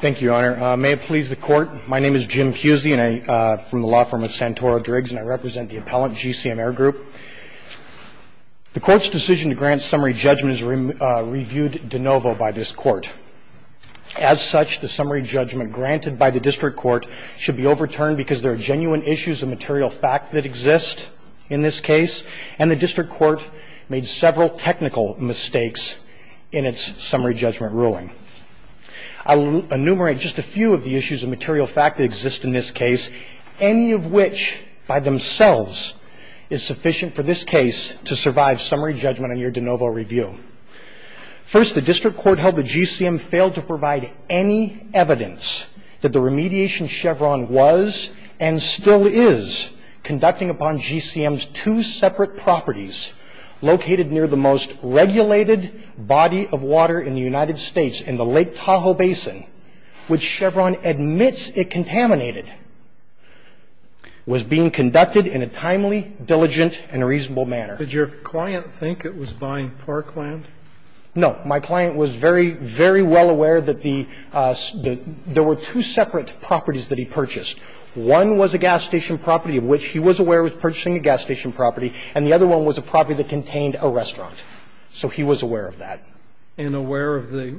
Thank you, Your Honor. May it please the Court, my name is Jim Pusey from the law firm of Santoro Driggs, and I represent the appellant GCM Air Group. The Court's decision to grant summary judgment is reviewed de novo by this Court. As such, the summary judgment granted by the District Court should be overturned because there are genuine issues of material fact that exist in this case, and the District Court made several technical mistakes in its a few of the issues of material fact that exist in this case, any of which by themselves is sufficient for this case to survive summary judgment on your de novo review. First, the District Court held that GCM failed to provide any evidence that the remediation Chevron was and still is conducting upon GCM's two separate properties located near the most important gas station, which Chevron admits it contaminated, was being conducted in a timely, diligent, and reasonable manner. Did your client think it was buying parkland? No. My client was very, very well aware that there were two separate properties that he purchased. One was a gas station property of which he was aware of purchasing a gas station property, and the other one was a property that contained a restaurant. So he was aware of that. And aware of the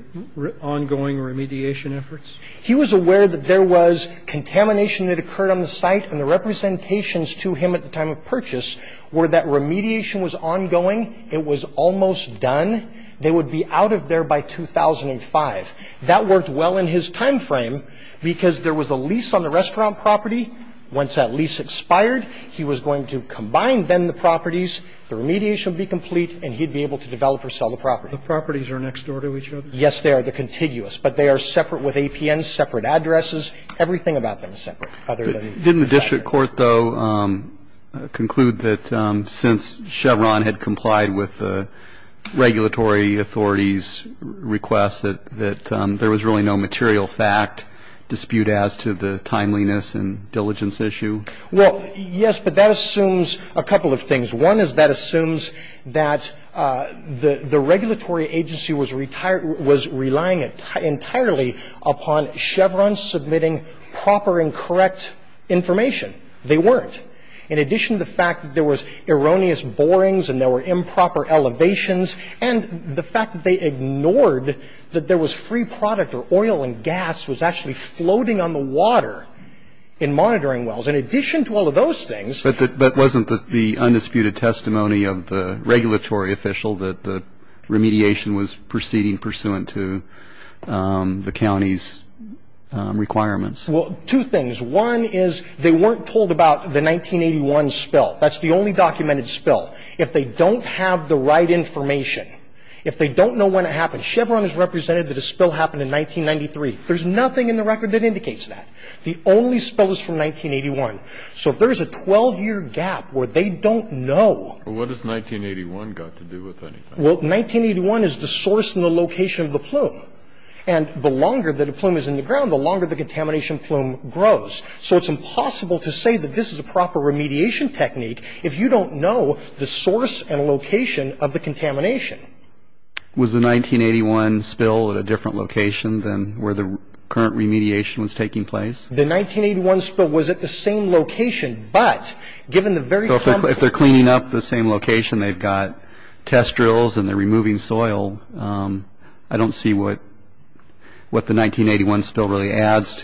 ongoing remediation efforts? He was aware that there was contamination that occurred on the site, and the representations to him at the time of purchase were that remediation was ongoing, it was almost done, they would be out of there by 2005. That worked well in his time frame because there was a lease on the restaurant property. Once that lease expired, he was going to combine then the properties, the remediation He would be able to sell the property. The lease would be complete, and he would be able to develop or sell the property. The properties are next door to each other? Yes, they are. They're contiguous. But they are separate with APNs, separate addresses. Everything about them is separate, other than the site. Didn't the district court, though, conclude that since Chevron had complied with the regulatory authority's request that there was really no material fact dispute as to the timeliness and diligence issue? Well, yes, but that assumes a couple of things. One is that assumes that the regulatory agency was relying entirely upon Chevron submitting proper and correct information. They weren't. In addition to the fact that there was erroneous borings and there were improper elevations, and the fact that they ignored that there was free product or oil and gas was actually floating on the water in monitoring wells. In addition to all of those things But wasn't the undisputed testimony of the regulatory official that the remediation was proceeding pursuant to the county's requirements? Well, two things. One is they weren't told about the 1981 spill. That's the only documented spill. If they don't have the right information, if they don't know when it happened, Chevron has represented that a spill happened in 1993. There's nothing in the record that indicates that. The only spill is from 1981. So if there is a 12-year gap where they don't know Well, what does 1981 got to do with anything? Well, 1981 is the source and the location of the plume. And the longer that a plume is in the ground, the longer the contamination plume grows. So it's impossible to say that this is a proper remediation technique if you don't know the source and location of the contamination. Was the 1981 spill at a different location than where the current remediation was taking place? The 1981 spill was at the same location, but given the very complex So if they're cleaning up the same location, they've got test drills and they're adds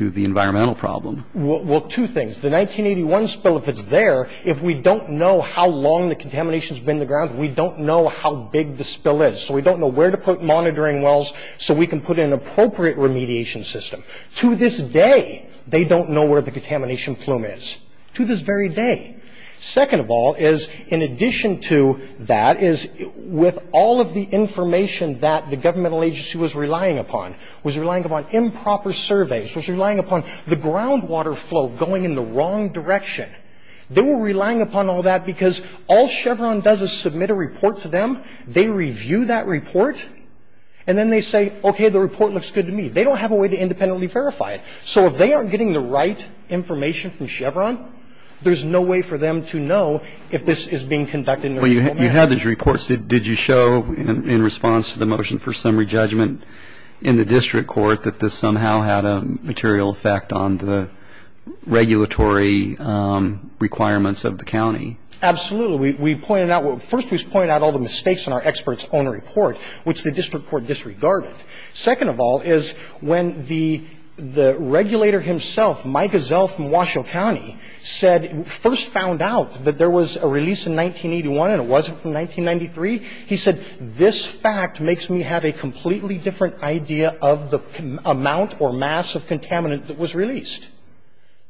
to the environmental problem. Well, two things. The 1981 spill, if it's there, if we don't know how long the contamination has been in the ground, we don't know how big the spill is. So we don't know where to put monitoring wells so we can put in an appropriate remediation system. To this day, they don't know where the contamination plume is. To this very day. Second of all is, in addition to that, is with all of the information that the governmental agency was relying upon, was relying upon improper surveys, was relying upon the groundwater flow going in the wrong direction. They were relying upon all that because all Chevron does is submit a report to them, they review that report, and then they say, okay, the report looks good to me. They don't have a way to independently verify it. So if they aren't getting the right information from Chevron, there's no way for them to know if this is being conducted in a normal manner. Well, you had these reports. Did you show in response to the motion for summary judgment in the district court that this somehow had a material effect on the regulatory requirements of the county? Absolutely. We pointed out what – first, we pointed out all the mistakes in our experts' own report, which the district court disregarded. Second of all is when the regulator himself, Mike Gazelle from Washoe County, said – first found out that there was a release in 1981 and it wasn't from 1993, he said, this fact makes me have a completely different idea of the amount or mass of contaminant that was released.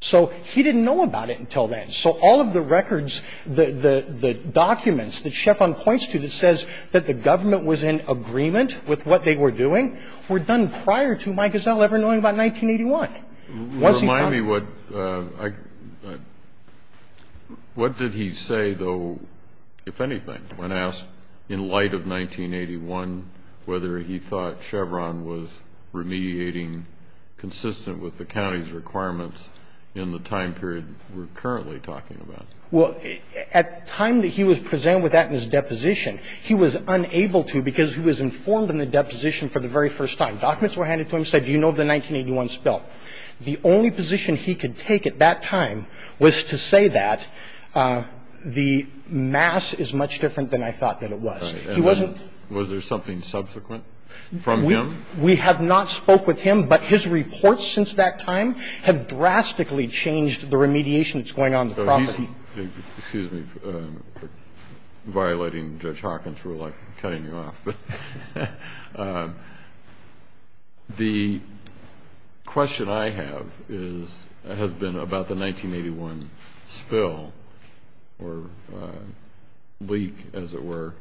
So he didn't know about it until then. So all of the records, the documents that Chevron points to that says that the government was in agreement with what they were doing were done prior to Mike Gazelle ever knowing about 1981. Remind me what – what did he say, though, if anything, when asked in light of 1981 whether he thought Chevron was remediating consistent with the county's requirements in the time period we're currently talking about? Well, at the time that he was presented with that in his deposition, he was unable to because he was informed in the deposition for the very first time. Documents were handed to him, said, do you know the 1981 spell? The only position he could take at that time was to say that the mass is much different than I thought that it was. He wasn't – And was there something subsequent from him? We have not spoke with him, but his reports since that time have drastically Excuse me for violating Judge Hawkins' rule. I'm cutting you off, but the question I have is – has been about the 1981 spill or leak, as it were,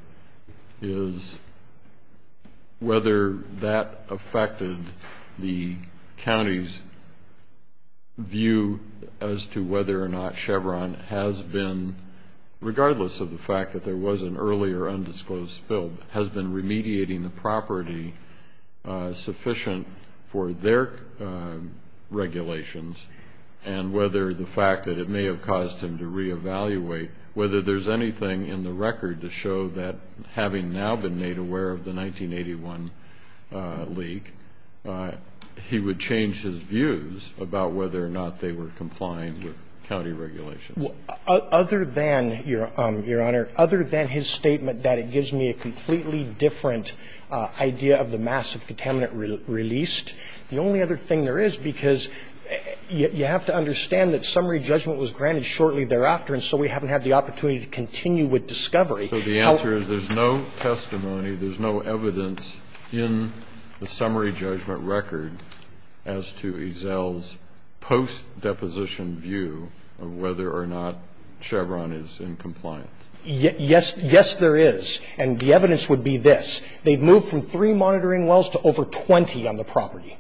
is whether that affected the county's view as to whether or not Chevron has been, regardless of the fact that there was an early or undisclosed spill, has been remediating the property sufficient for their regulations, and whether the fact that it may have caused him to re-evaluate, whether there's anything in the record to show that having now been made aware of the 1981 leak, he would change his views about whether or not they were complying with county regulations. Other than, Your Honor, other than his statement that it gives me a completely different idea of the mass of contaminant released, the only other thing there is, because you have to understand that summary judgment was granted shortly thereafter, and so we haven't had the opportunity to continue with discovery. So the answer is there's no testimony, there's no evidence in the summary judgment record as to Ezell's post-deposition view of whether or not Chevron is in compliance. Yes. Yes, there is. And the evidence would be this. They've moved from three monitoring wells to over 20 on the property.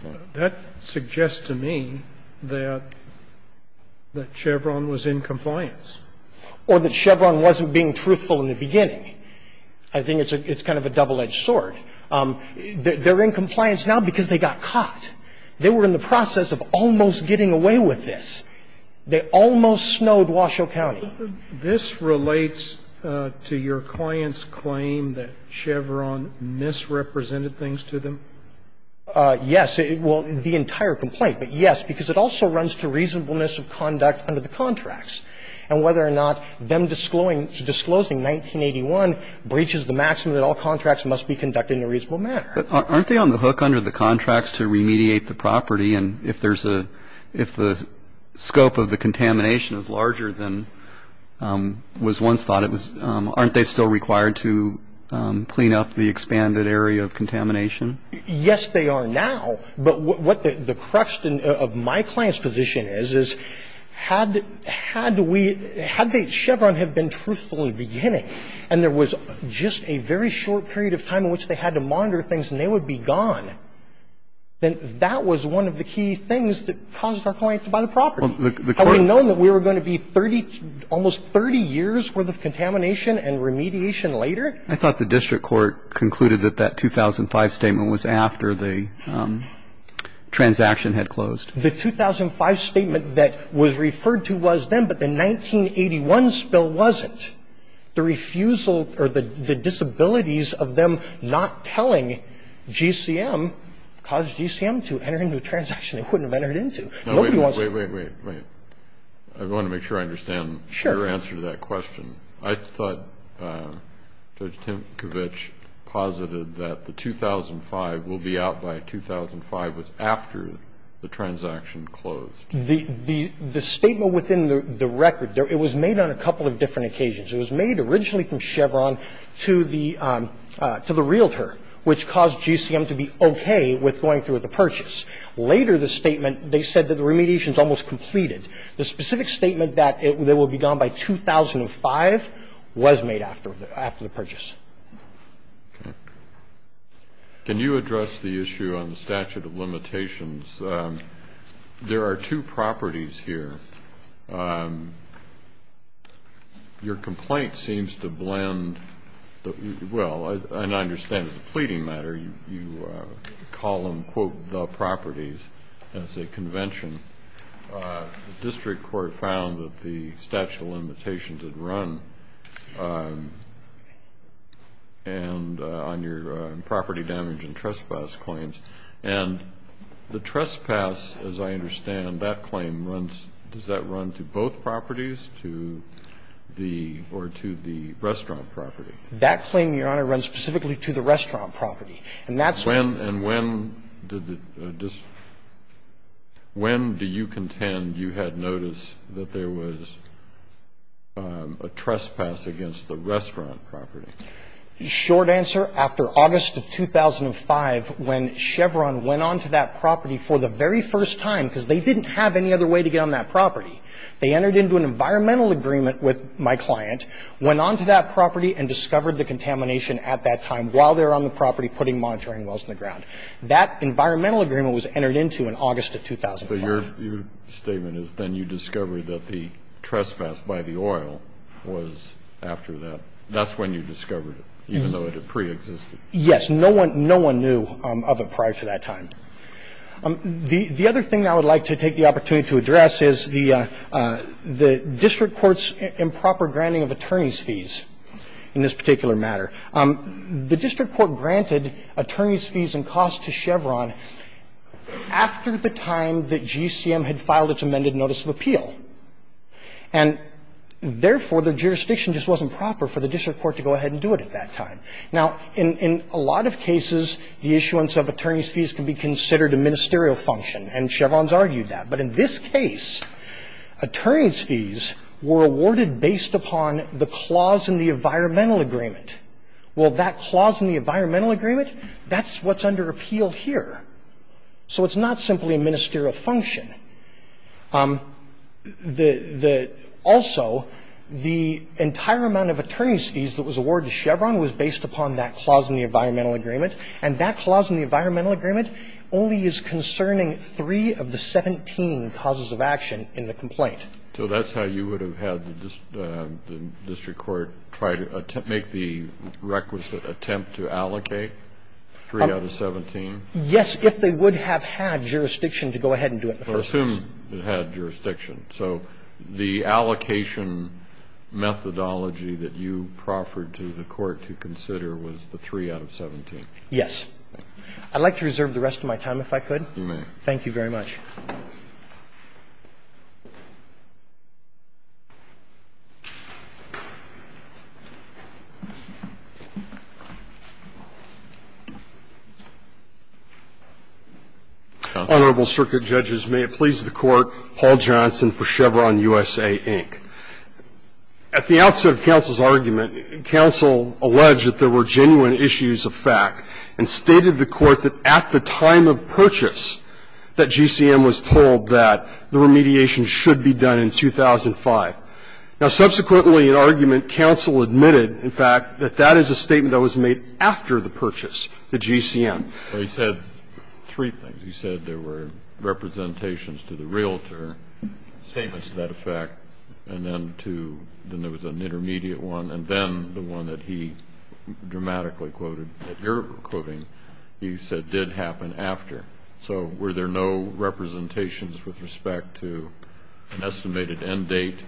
Okay. That suggests to me that Chevron was in compliance. Or that Chevron wasn't being truthful in the beginning. I think it's kind of a double-edged sword. They're in compliance now because they got caught. They were in the process of almost getting away with this. They almost snowed Washoe County. This relates to your client's claim that Chevron misrepresented things to them? Yes. Well, the entire complaint. But, yes, because it also runs to reasonableness of conduct under the contracts. And whether or not them disclosing 1981 breaches the maxim that all contracts must be conducted in a reasonable manner. But aren't they on the hook under the contracts to remediate the property? And if there's a – if the scope of the contamination is larger than was once thought, aren't they still required to clean up the expanded area of contamination? Yes, they are now. But what the crux of my client's position is, is had we – had Chevron had been truthful in the beginning and there was just a very short period of time in which they had to monitor things and they would be gone, then that was one of the key things that caused our client to buy the property. Had we known that we were going to be almost 30 years' worth of contamination and remediation later? I thought the district court concluded that that 2005 statement was after the transaction had closed. The 2005 statement that was referred to was then. But the 1981 spill wasn't. The refusal or the disabilities of them not telling GCM caused GCM to enter into a transaction they wouldn't have entered into. Wait, wait, wait. I want to make sure I understand your answer to that question. I thought Judge Tinkovich posited that the 2005 will be out by 2005 was after the transaction closed. The statement within the record, it was made on a couple of different occasions. It was made originally from Chevron to the realtor, which caused GCM to be okay with going through with the purchase. Later, the statement, they said that the remediation is almost completed. The specific statement that it will be gone by 2005 was made after the purchase. Okay. Can you address the issue on the statute of limitations? There are two properties here. Your complaint seems to blend the – well, and I understand the pleading matter. You call them, quote, the properties as a convention. The district court found that the statute of limitations had run and on your property damage and trespass claims, and the trespass, as I understand, that claim runs – does that run to both properties, to the – or to the restaurant property? That claim, Your Honor, runs specifically to the restaurant property. And that's when – And when did the – when do you contend you had notice that there was a trespass against the restaurant property? Short answer, after August of 2005, when Chevron went on to that property for the very first time, because they didn't have any other way to get on that property. They entered into an environmental agreement with my client, went on to that property and discovered the contamination at that time while they were on the property putting monitoring wells in the ground. That environmental agreement was entered into in August of 2005. So your statement is then you discovered that the trespass by the oil was after that. That's when you discovered it, even though it had preexisted? Yes. No one – no one knew of it prior to that time. The other thing I would like to take the opportunity to address is the district court's improper granting of attorney's fees. In this particular matter, the district court granted attorney's fees and costs to Chevron after the time that GCM had filed its amended notice of appeal. And, therefore, the jurisdiction just wasn't proper for the district court to go ahead and do it at that time. Now, in a lot of cases, the issuance of attorney's fees can be considered a ministerial function, and Chevron's argued that. But in this case, attorney's fees were awarded based upon the clause in the environmental agreement. Well, that clause in the environmental agreement, that's what's under appeal here. So it's not simply a ministerial function. The – also, the entire amount of attorney's fees that was awarded to Chevron was based upon that clause in the environmental agreement. And that clause in the environmental agreement only is concerning three of the 17 causes of action in the complaint. So that's how you would have had the district court try to make the requisite attempt to allocate three out of 17? Yes, if they would have had jurisdiction to go ahead and do it in the first place. Well, assume it had jurisdiction. So the allocation methodology that you proffered to the Court to consider was the three out of 17? Yes. I'd like to reserve the rest of my time, if I could. You may. Thank you very much. Honorable Circuit Judges, may it please the Court. Paul Johnson for Chevron USA, Inc. At the outset of counsel's argument, counsel alleged that there were genuine issues of fact and stated the Court that at the time of purchase that GCM was told that the remediation should be done in 2005. Now, subsequently in argument, counsel admitted, in fact, that that is a statement that was made after the purchase to GCM. Well, he said three things. He said there were representations to the realtor, statements to that effect, and then to – then there was an intermediate one. And then the one that he dramatically quoted that you're quoting, he said did happen after. So were there no representations with respect to an estimated end date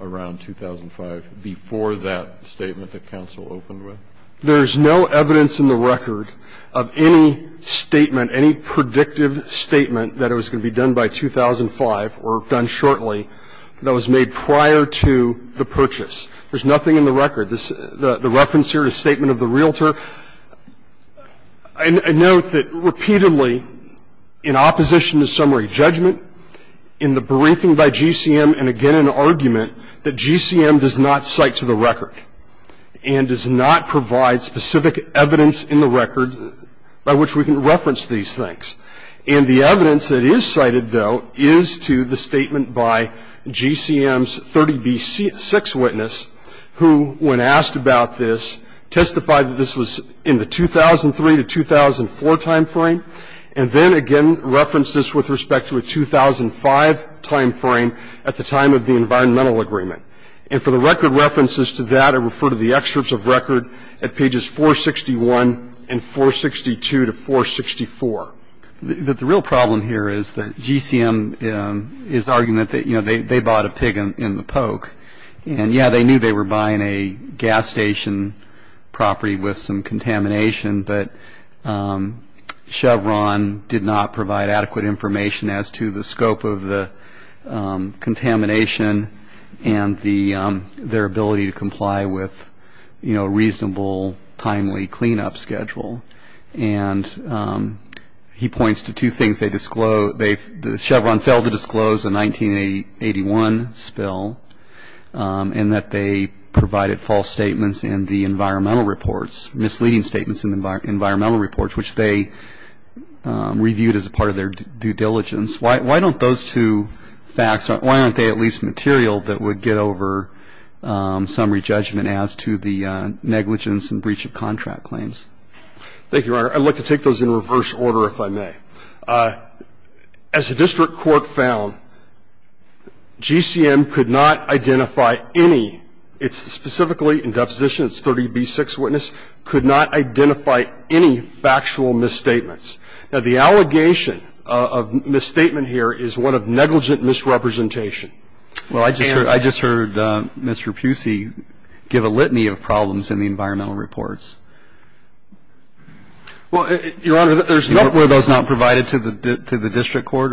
around 2005 before that statement that counsel opened with? There is no evidence in the record of any statement, any predictive statement, that it was going to be done by 2005 or done shortly that was made prior to the purchase. There's nothing in the record. The reference here is a statement of the realtor. I note that repeatedly in opposition to summary judgment, in the briefing by GCM, and again in argument, that GCM does not cite to the record and does not provide specific evidence in the record by which we can reference these things. And the evidence that is cited, though, is to the statement by GCM's 30B6 witness, who, when asked about this, testified that this was in the 2003 to 2004 timeframe, and then again referenced this with respect to a 2005 timeframe at the time of the environmental agreement. And for the record references to that, I refer to the excerpts of record at pages 461 and 462 to 464. The real problem here is that GCM is arguing that they bought a pig in the poke. And, yeah, they knew they were buying a gas station property with some contamination, but Chevron did not provide adequate information as to the scope of the contamination and their ability to comply with a reasonable, timely cleanup schedule. And he points to two things they disclose. Chevron failed to disclose a 1981 spill and that they provided false statements in the environmental reports, misleading statements in the environmental reports, which they reviewed as a part of their due diligence. Why don't those two facts, why aren't they at least material that would get over summary judgment as to the negligence and breach of contract claims? Thank you, Your Honor. I'd like to take those in reverse order, if I may. As the district court found, GCM could not identify any. It's specifically in deposition, it's 30B6 witness, could not identify any factual misstatements. Now, the allegation of misstatement here is one of negligent misrepresentation. Well, I just heard Mr. Pusey give a litany of problems in the environmental reports. Well, Your Honor, there's not one of those not provided to the district court?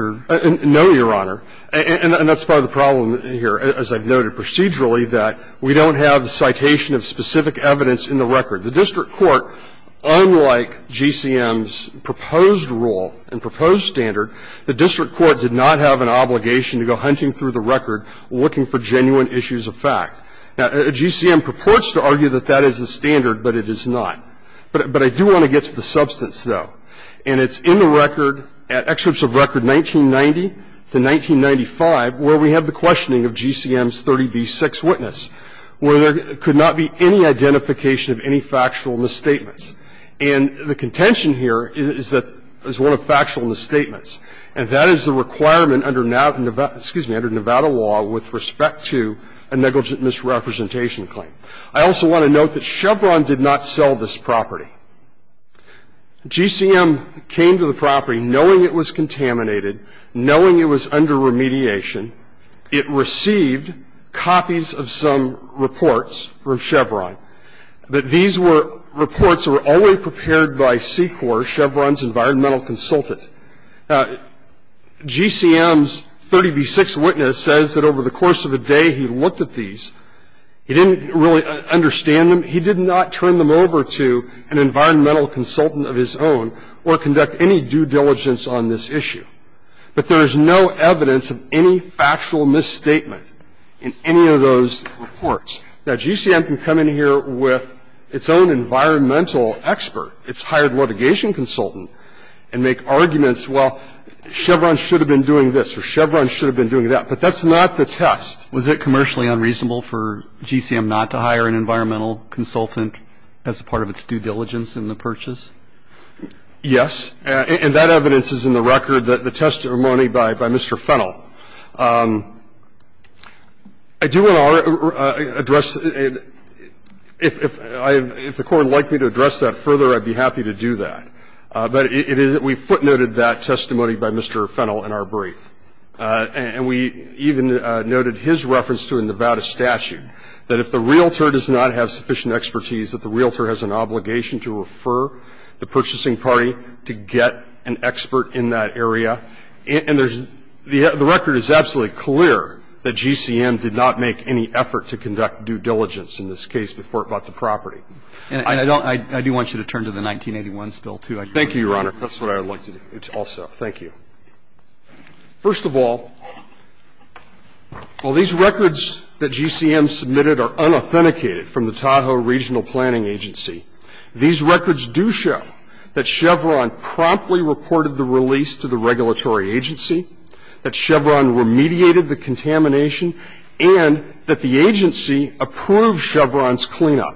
No, Your Honor. And that's part of the problem here, as I've noted procedurally, that we don't have the citation of specific evidence in the record. The district court, unlike GCM's proposed rule and proposed standard, the district court did not have an obligation to go hunting through the record looking for genuine issues of fact. Now, GCM purports to argue that that is the standard, but it is not. But I do want to get to the substance, though. And it's in the record, at excerpts of record 1990 to 1995, where we have the questioning of GCM's 30B6 witness, where there could not be any identification of any factual misstatements. And the contention here is that it's one of factual misstatements. And that is the requirement under Nevada law with respect to a negligent misrepresentation claim. I also want to note that Chevron did not sell this property. GCM came to the property knowing it was contaminated, knowing it was under remediation. It received copies of some reports from Chevron, but these were reports that were always prepared by SECOR, Chevron's environmental consultant. Now, GCM's 30B6 witness says that over the course of the day he looked at these, he didn't really understand them. He did not turn them over to an environmental consultant of his own or conduct any due diligence on this issue. But there is no evidence of any factual misstatement in any of those reports. Now, GCM can come in here with its own environmental expert, its hired litigation consultant, and make arguments, well, Chevron should have been doing this or Chevron should have been doing that. But that's not the test. Was it commercially unreasonable for GCM not to hire an environmental consultant as part of its due diligence in the purchase? Yes. And that evidence is in the record, the testimony by Mr. Fennell. I do want to address, if the Court would like me to address that further, I'd be happy to do that. But we footnoted that testimony by Mr. Fennell in our brief. And we even noted his reference to a Nevada statute, that if the realtor does not have sufficient expertise, that the realtor has an obligation to refer the purchasing party to get an expert in that area. And the record is absolutely clear that GCM did not make any effort to conduct due diligence in this case before it bought the property. And I do want you to turn to the 1981 still, too. Thank you, Your Honor. That's what I would like to do also. Thank you. First of all, while these records that GCM submitted are unauthenticated from the Tahoe Regional Planning Agency, these records do show that Chevron promptly reported the release to the regulatory agency, that Chevron remediated the contamination, and that the agency approved Chevron's cleanup.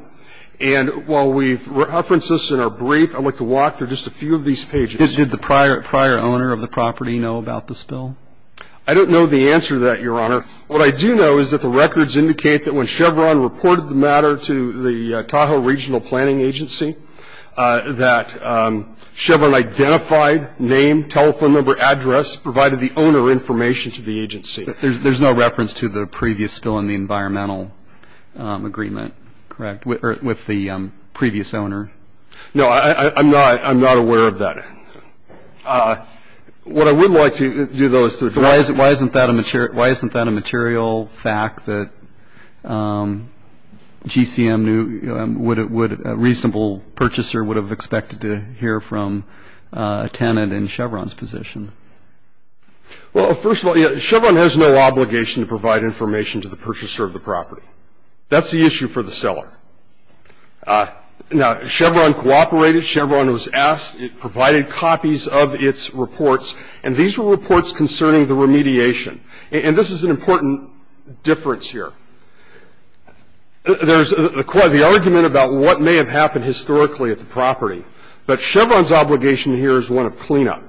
And while we've referenced this in our brief, I'd like to walk through just a few of these pages. Did the prior owner of the property know about this bill? I don't know the answer to that, Your Honor. What I do know is that the records indicate that when Chevron reported the matter to the Tahoe Regional Planning Agency, that Chevron identified, named, telephone number, address, provided the owner information to the agency. There's no reference to the previous bill in the environmental agreement, correct, with the previous owner? No, I'm not aware of that. What I would like to do, though, is to address that. Why isn't that a material fact that GCM would, a reasonable purchaser, would have expected to hear from a tenant in Chevron's position? Well, first of all, Chevron has no obligation to provide information to the purchaser of the property. That's the issue for the seller. Now, Chevron cooperated, Chevron was asked, it provided copies of its reports, and these were reports concerning the remediation. And this is an important difference here. There's quite the argument about what may have happened historically at the property. But Chevron's obligation here is one of cleanup.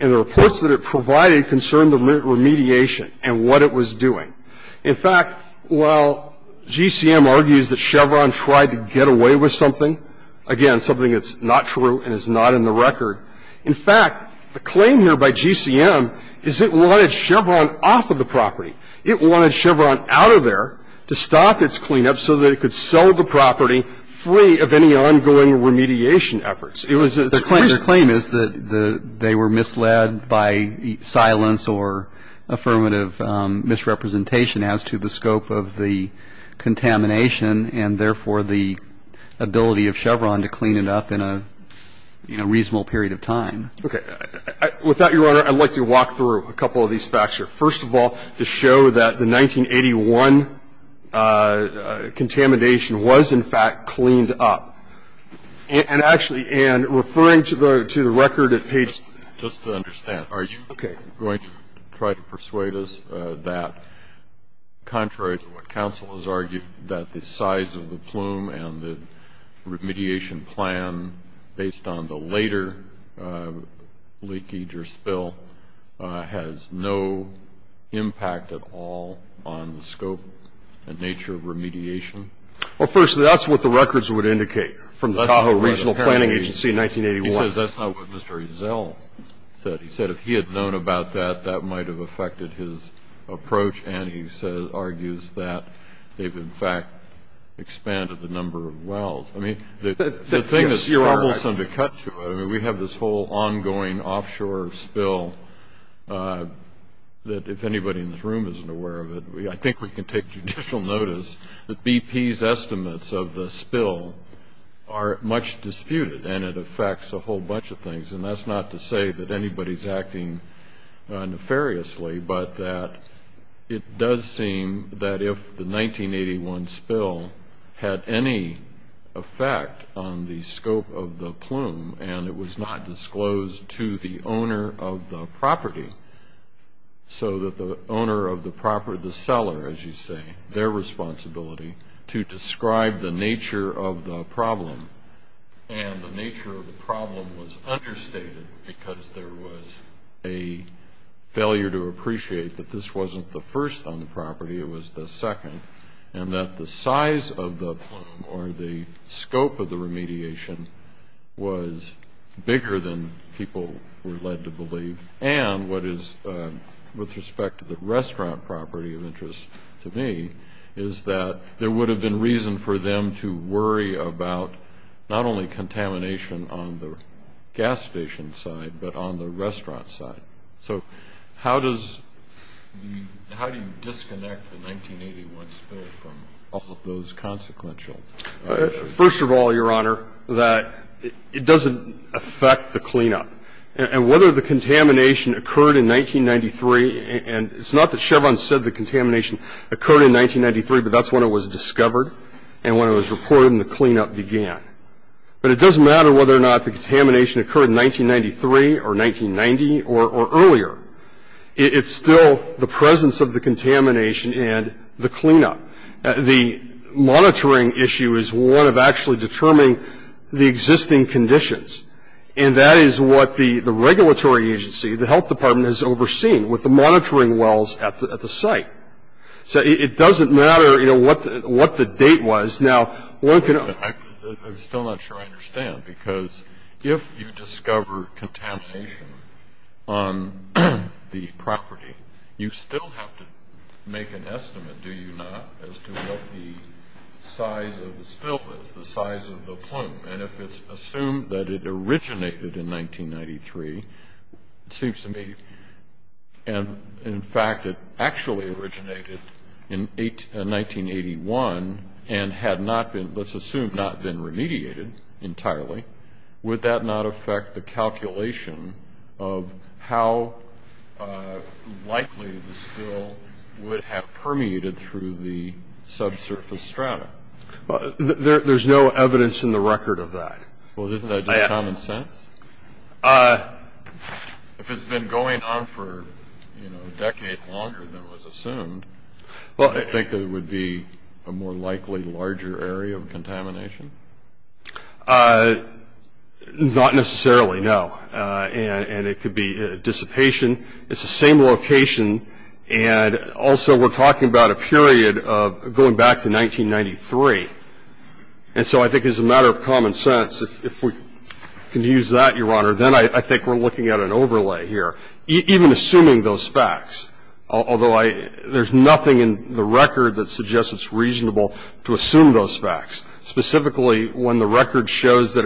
And the reports that it provided concerned the remediation and what it was doing. In fact, while GCM argues that Chevron tried to get away with something, again, something that's not true and is not in the record, in fact, the claim here by GCM is it wanted Chevron off of the property. It wanted Chevron out of there to stop its cleanup so that it could sell the property free of any ongoing remediation efforts. It was a... The claim is that they were misled by silence or affirmative misrepresentation as to the scope of the contamination and, therefore, the ability of Chevron to clean it up in a reasonable period of time. Okay. With that, Your Honor, I'd like to walk through a couple of these facts here. First of all, to show that the 1981 contamination was, in fact, cleaned up. And actually, Anne, referring to the record at page... Just to understand. Okay. Are you going to try to persuade us that, contrary to what counsel has argued, that the size of the plume and the remediation plan, based on the later leakage or spill, has no impact at all on the scope and nature of remediation? Well, firstly, that's what the records would indicate from the Tahoe Regional Planning Agency in 1981. He says that's not what Mr. Ezell said. He said if he had known about that, that might have affected his approach, and he argues that they've, in fact, expanded the number of wells. I mean, the thing is, you're almost undercut to it. I mean, we have this whole ongoing offshore spill that, if anybody in this room isn't aware of it, I think we can take judicial notice that BP's estimates of the spill are much disputed, and it affects a whole bunch of things. And that's not to say that anybody's acting nefariously, but that it does seem that if the 1981 spill had any effect on the scope of the plume and it was not disclosed to the owner of the property, so that the owner of the property, the seller, as you say, and the nature of the problem was understated because there was a failure to appreciate that this wasn't the first on the property, it was the second, and that the size of the plume or the scope of the remediation was bigger than people were led to believe. And what is, with respect to the restaurant property of interest to me, is that there would have been reason for them to worry about not only contamination on the gas station side, but on the restaurant side. So how do you disconnect the 1981 spill from all of those consequential issues? First of all, Your Honor, that it doesn't affect the cleanup. And whether the contamination occurred in 1993, and it's not that Chevron said the contamination occurred in 1993, but that's when it was discovered and when it was reported and the cleanup began. But it doesn't matter whether or not the contamination occurred in 1993 or 1990 or earlier. It's still the presence of the contamination and the cleanup. The monitoring issue is one of actually determining the existing conditions, and that is what the regulatory agency, the health department, has overseen with the monitoring wells at the site. So it doesn't matter, you know, what the date was. Now, one can... I'm still not sure I understand, because if you discover contamination on the property, you still have to make an estimate, do you not, as to what the size of the spill is, the size of the plume. And if it's assumed that it originated in 1993, it seems to me, and in fact it actually originated in 1981 and had not been, let's assume, not been remediated entirely, would that not affect the calculation of how likely the spill would have permeated through the subsurface strata? There's no evidence in the record of that. Well, isn't that just common sense? If it's been going on for, you know, a decade longer than was assumed, I think there would be a more likely larger area of contamination? Not necessarily, no. And it could be dissipation. It's the same location. And also we're talking about a period of going back to 1993. And so I think as a matter of common sense, if we can use that, Your Honor, then I think we're looking at an overlay here. Even assuming those facts, although there's nothing in the record that suggests it's reasonable to assume those facts, specifically when the record shows that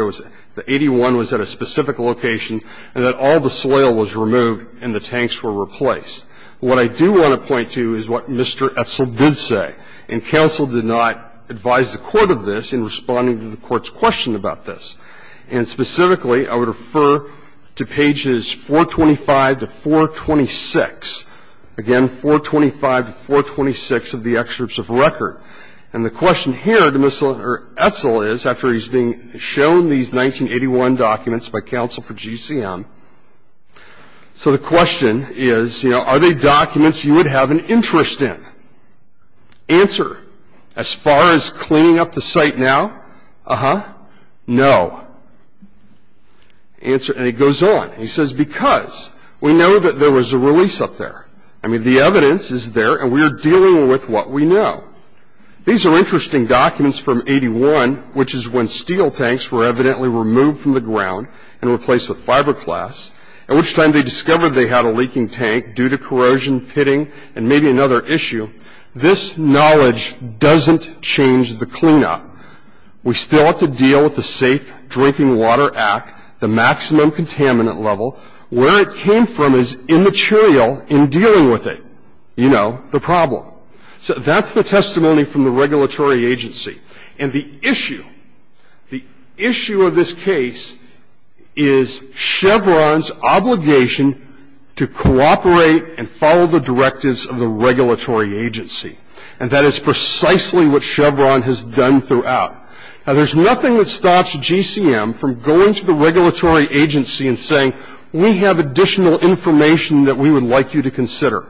the 81 was at a specific location and that all the soil was removed and the tanks were replaced. What I do want to point to is what Mr. Etzel did say. And counsel did not advise the court of this in responding to the court's question about this. And specifically, I would refer to pages 425 to 426. Again, 425 to 426 of the excerpts of record. And the question here to Mr. Etzel is, after he's been shown these 1981 documents by counsel for GCM, so the question is, you know, are they documents you would have an interest in? Answer, as far as cleaning up the site now, uh-huh, no. Answer, and it goes on. He says, because we know that there was a release up there. I mean, the evidence is there, and we are dealing with what we know. These are interesting documents from 81, which is when steel tanks were evidently removed from the ground and replaced with fiberglass, at which time they discovered they had a leaking tank due to corrosion, pitting, and maybe another issue. This knowledge doesn't change the cleanup. We still have to deal with the Safe Drinking Water Act, the maximum contaminant level. Where it came from is immaterial in dealing with it, you know, the problem. So that's the testimony from the regulatory agency. And the issue, the issue of this case is Chevron's obligation to cooperate and follow the directives of the regulatory agency. And that is precisely what Chevron has done throughout. Now, there's nothing that stops GCM from going to the regulatory agency and saying, we have additional information that we would like you to consider.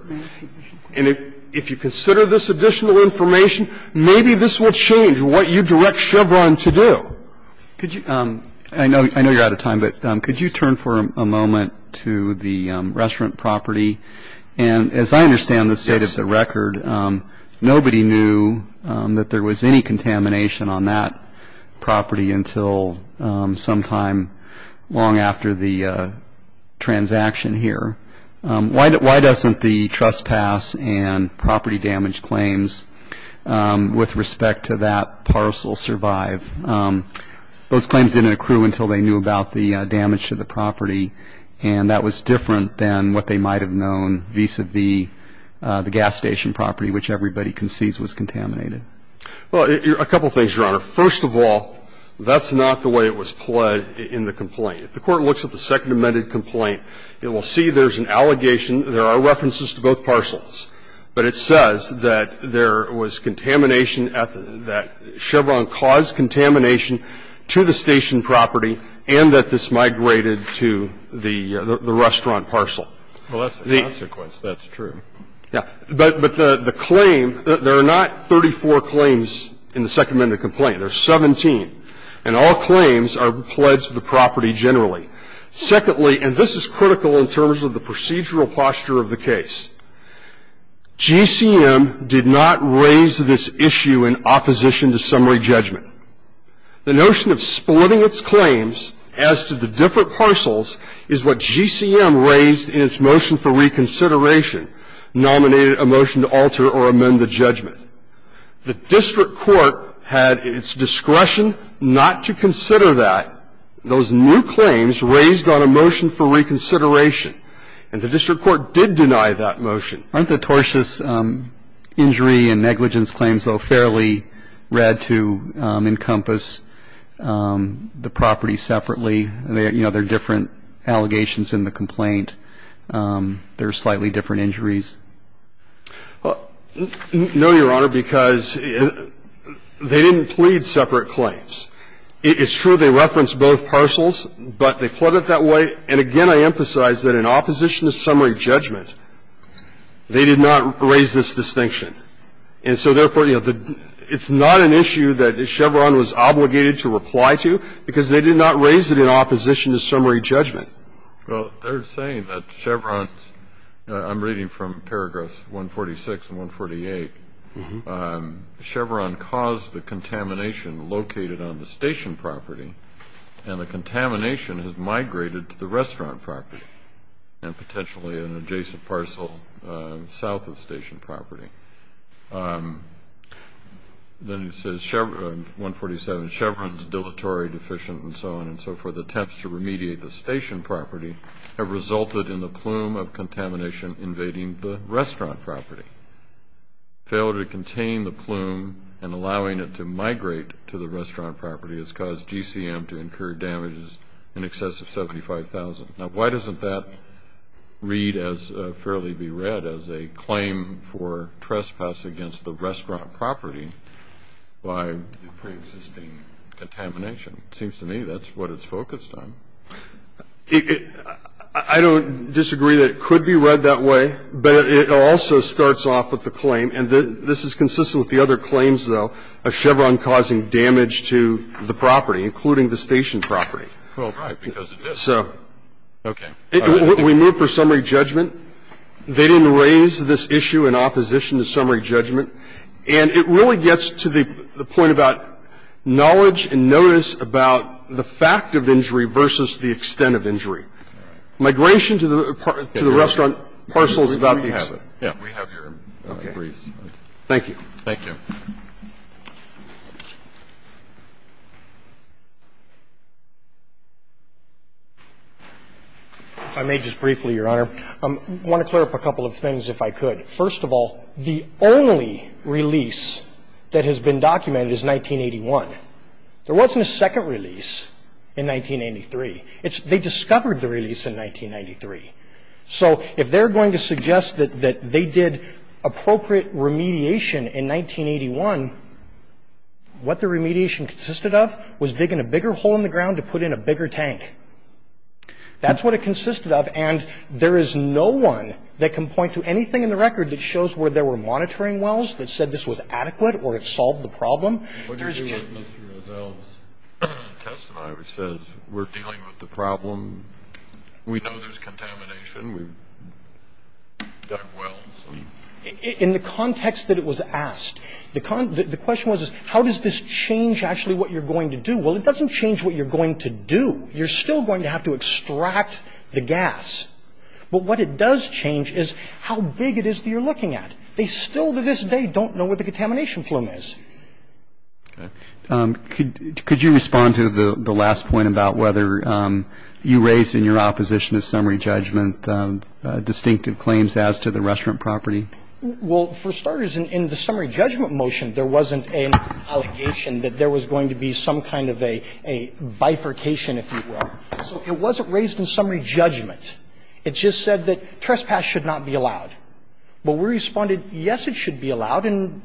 And if you consider this additional information, maybe this will change what you direct Chevron to do. I know you're out of time, but could you turn for a moment to the restaurant property? And as I understand the state of the record, nobody knew that there was any contamination on that property until sometime long after the transaction here. Why doesn't the trespass and property damage claims with respect to that parcel survive? Those claims didn't accrue until they knew about the damage to the property. And that was different than what they might have known vis-à-vis the gas station property, which everybody concedes was contaminated. Well, a couple of things, Your Honor. First of all, that's not the way it was pled in the complaint. If the Court looks at the Second Amendment complaint, it will see there's an allegation, there are references to both parcels, but it says that there was contamination that Chevron caused contamination to the station property and that this migrated to the restaurant parcel. Well, that's the consequence. That's true. Yeah. But the claim, there are not 34 claims in the Second Amendment complaint. There are 17. And all claims are pled to the property generally. Secondly, and this is critical in terms of the procedural posture of the case, GCM did not raise this issue in opposition to summary judgment. The notion of splitting its claims as to the different parcels is what GCM raised in its motion for reconsideration, nominated a motion to alter or amend the judgment. The district court had its discretion not to consider that. Those new claims raised on a motion for reconsideration. And the district court did deny that motion. Aren't the tortious injury and negligence claims, though, fairly red to encompass the property separately? You know, there are different allegations in the complaint. There are slightly different injuries. No, Your Honor, because they didn't plead separate claims. It's true they referenced both parcels, but they pled it that way. And again, I emphasize that in opposition to summary judgment, they did not raise this distinction. And so therefore, you know, it's not an issue that Chevron was obligated to reply to, because they did not raise it in opposition to summary judgment. Well, they're saying that Chevron's, I'm reading from paragraphs 146 and 148, Chevron caused the contamination located on the station property, and the contamination has migrated to the restaurant property and potentially an adjacent parcel south of station property. Then it says, 147, Chevron's dilatory deficient and so on and so forth, attempts to remediate the station property have resulted in the plume of contamination invading the restaurant property. Failure to contain the plume and allowing it to migrate to the restaurant property has caused GCM to incur damages in excess of $75,000. Now, why doesn't that read as fairly be read as a claim for trespass against the restaurant property by preexisting contamination? It seems to me that's what it's focused on. I don't disagree that it could be read that way, but it also starts off with the claim, and this is consistent with the other claims, though, of Chevron causing damage to the property, including the station property. Well, right, because it is. So. Okay. We move for summary judgment. They didn't raise this issue in opposition to summary judgment. And it really gets to the point about knowledge and notice about the fact of injury versus the extent of injury. Migration to the restaurant parcel is about the extent. So we have your brief. Thank you. Thank you. If I may just briefly, Your Honor, I want to clear up a couple of things, if I could. First of all, the only release that has been documented is 1981. There wasn't a second release in 1983. They discovered the release in 1993. So if they're going to suggest that they did appropriate remediation in 1981, what the remediation consisted of was digging a bigger hole in the ground to put in a bigger tank. That's what it consisted of, and there is no one that can point to anything in the record that shows where there were monitoring wells that said this was adequate or it solved the problem. Mr. Rozell's testimony says we're dealing with the problem. We know there's contamination. We dug wells. In the context that it was asked, the question was, how does this change actually what you're going to do? Well, it doesn't change what you're going to do. You're still going to have to extract the gas. But what it does change is how big it is that you're looking at. And the answer is, no. They still, to this day, don't know where the contamination flume is. Okay. Could you respond to the last point about whether you raised in your opposition to summary judgment distinctive claims as to the restaurant property? Well, for starters, in the summary judgment motion, there wasn't an allegation that there was going to be some kind of a bifurcation, if you will. So it wasn't raised in summary judgment. It just said that trespass should not be allowed. But we responded, yes, it should be allowed, and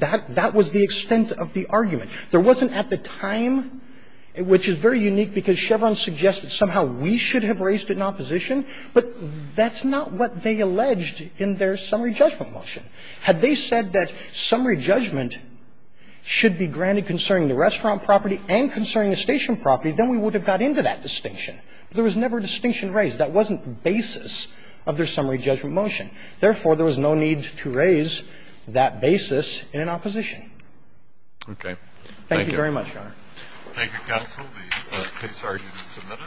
that was the extent of the argument. There wasn't at the time, which is very unique because Chevron suggested somehow we should have raised it in opposition, but that's not what they alleged in their summary judgment motion. Had they said that summary judgment should be granted concerning the restaurant property and concerning the station property, then we would have got into that distinction. There was never a distinction raised. That wasn't the basis of their summary judgment motion. Therefore, there was no need to raise that basis in an opposition. Okay. Thank you very much, Your Honor. Thank you, counsel. The case has already been submitted.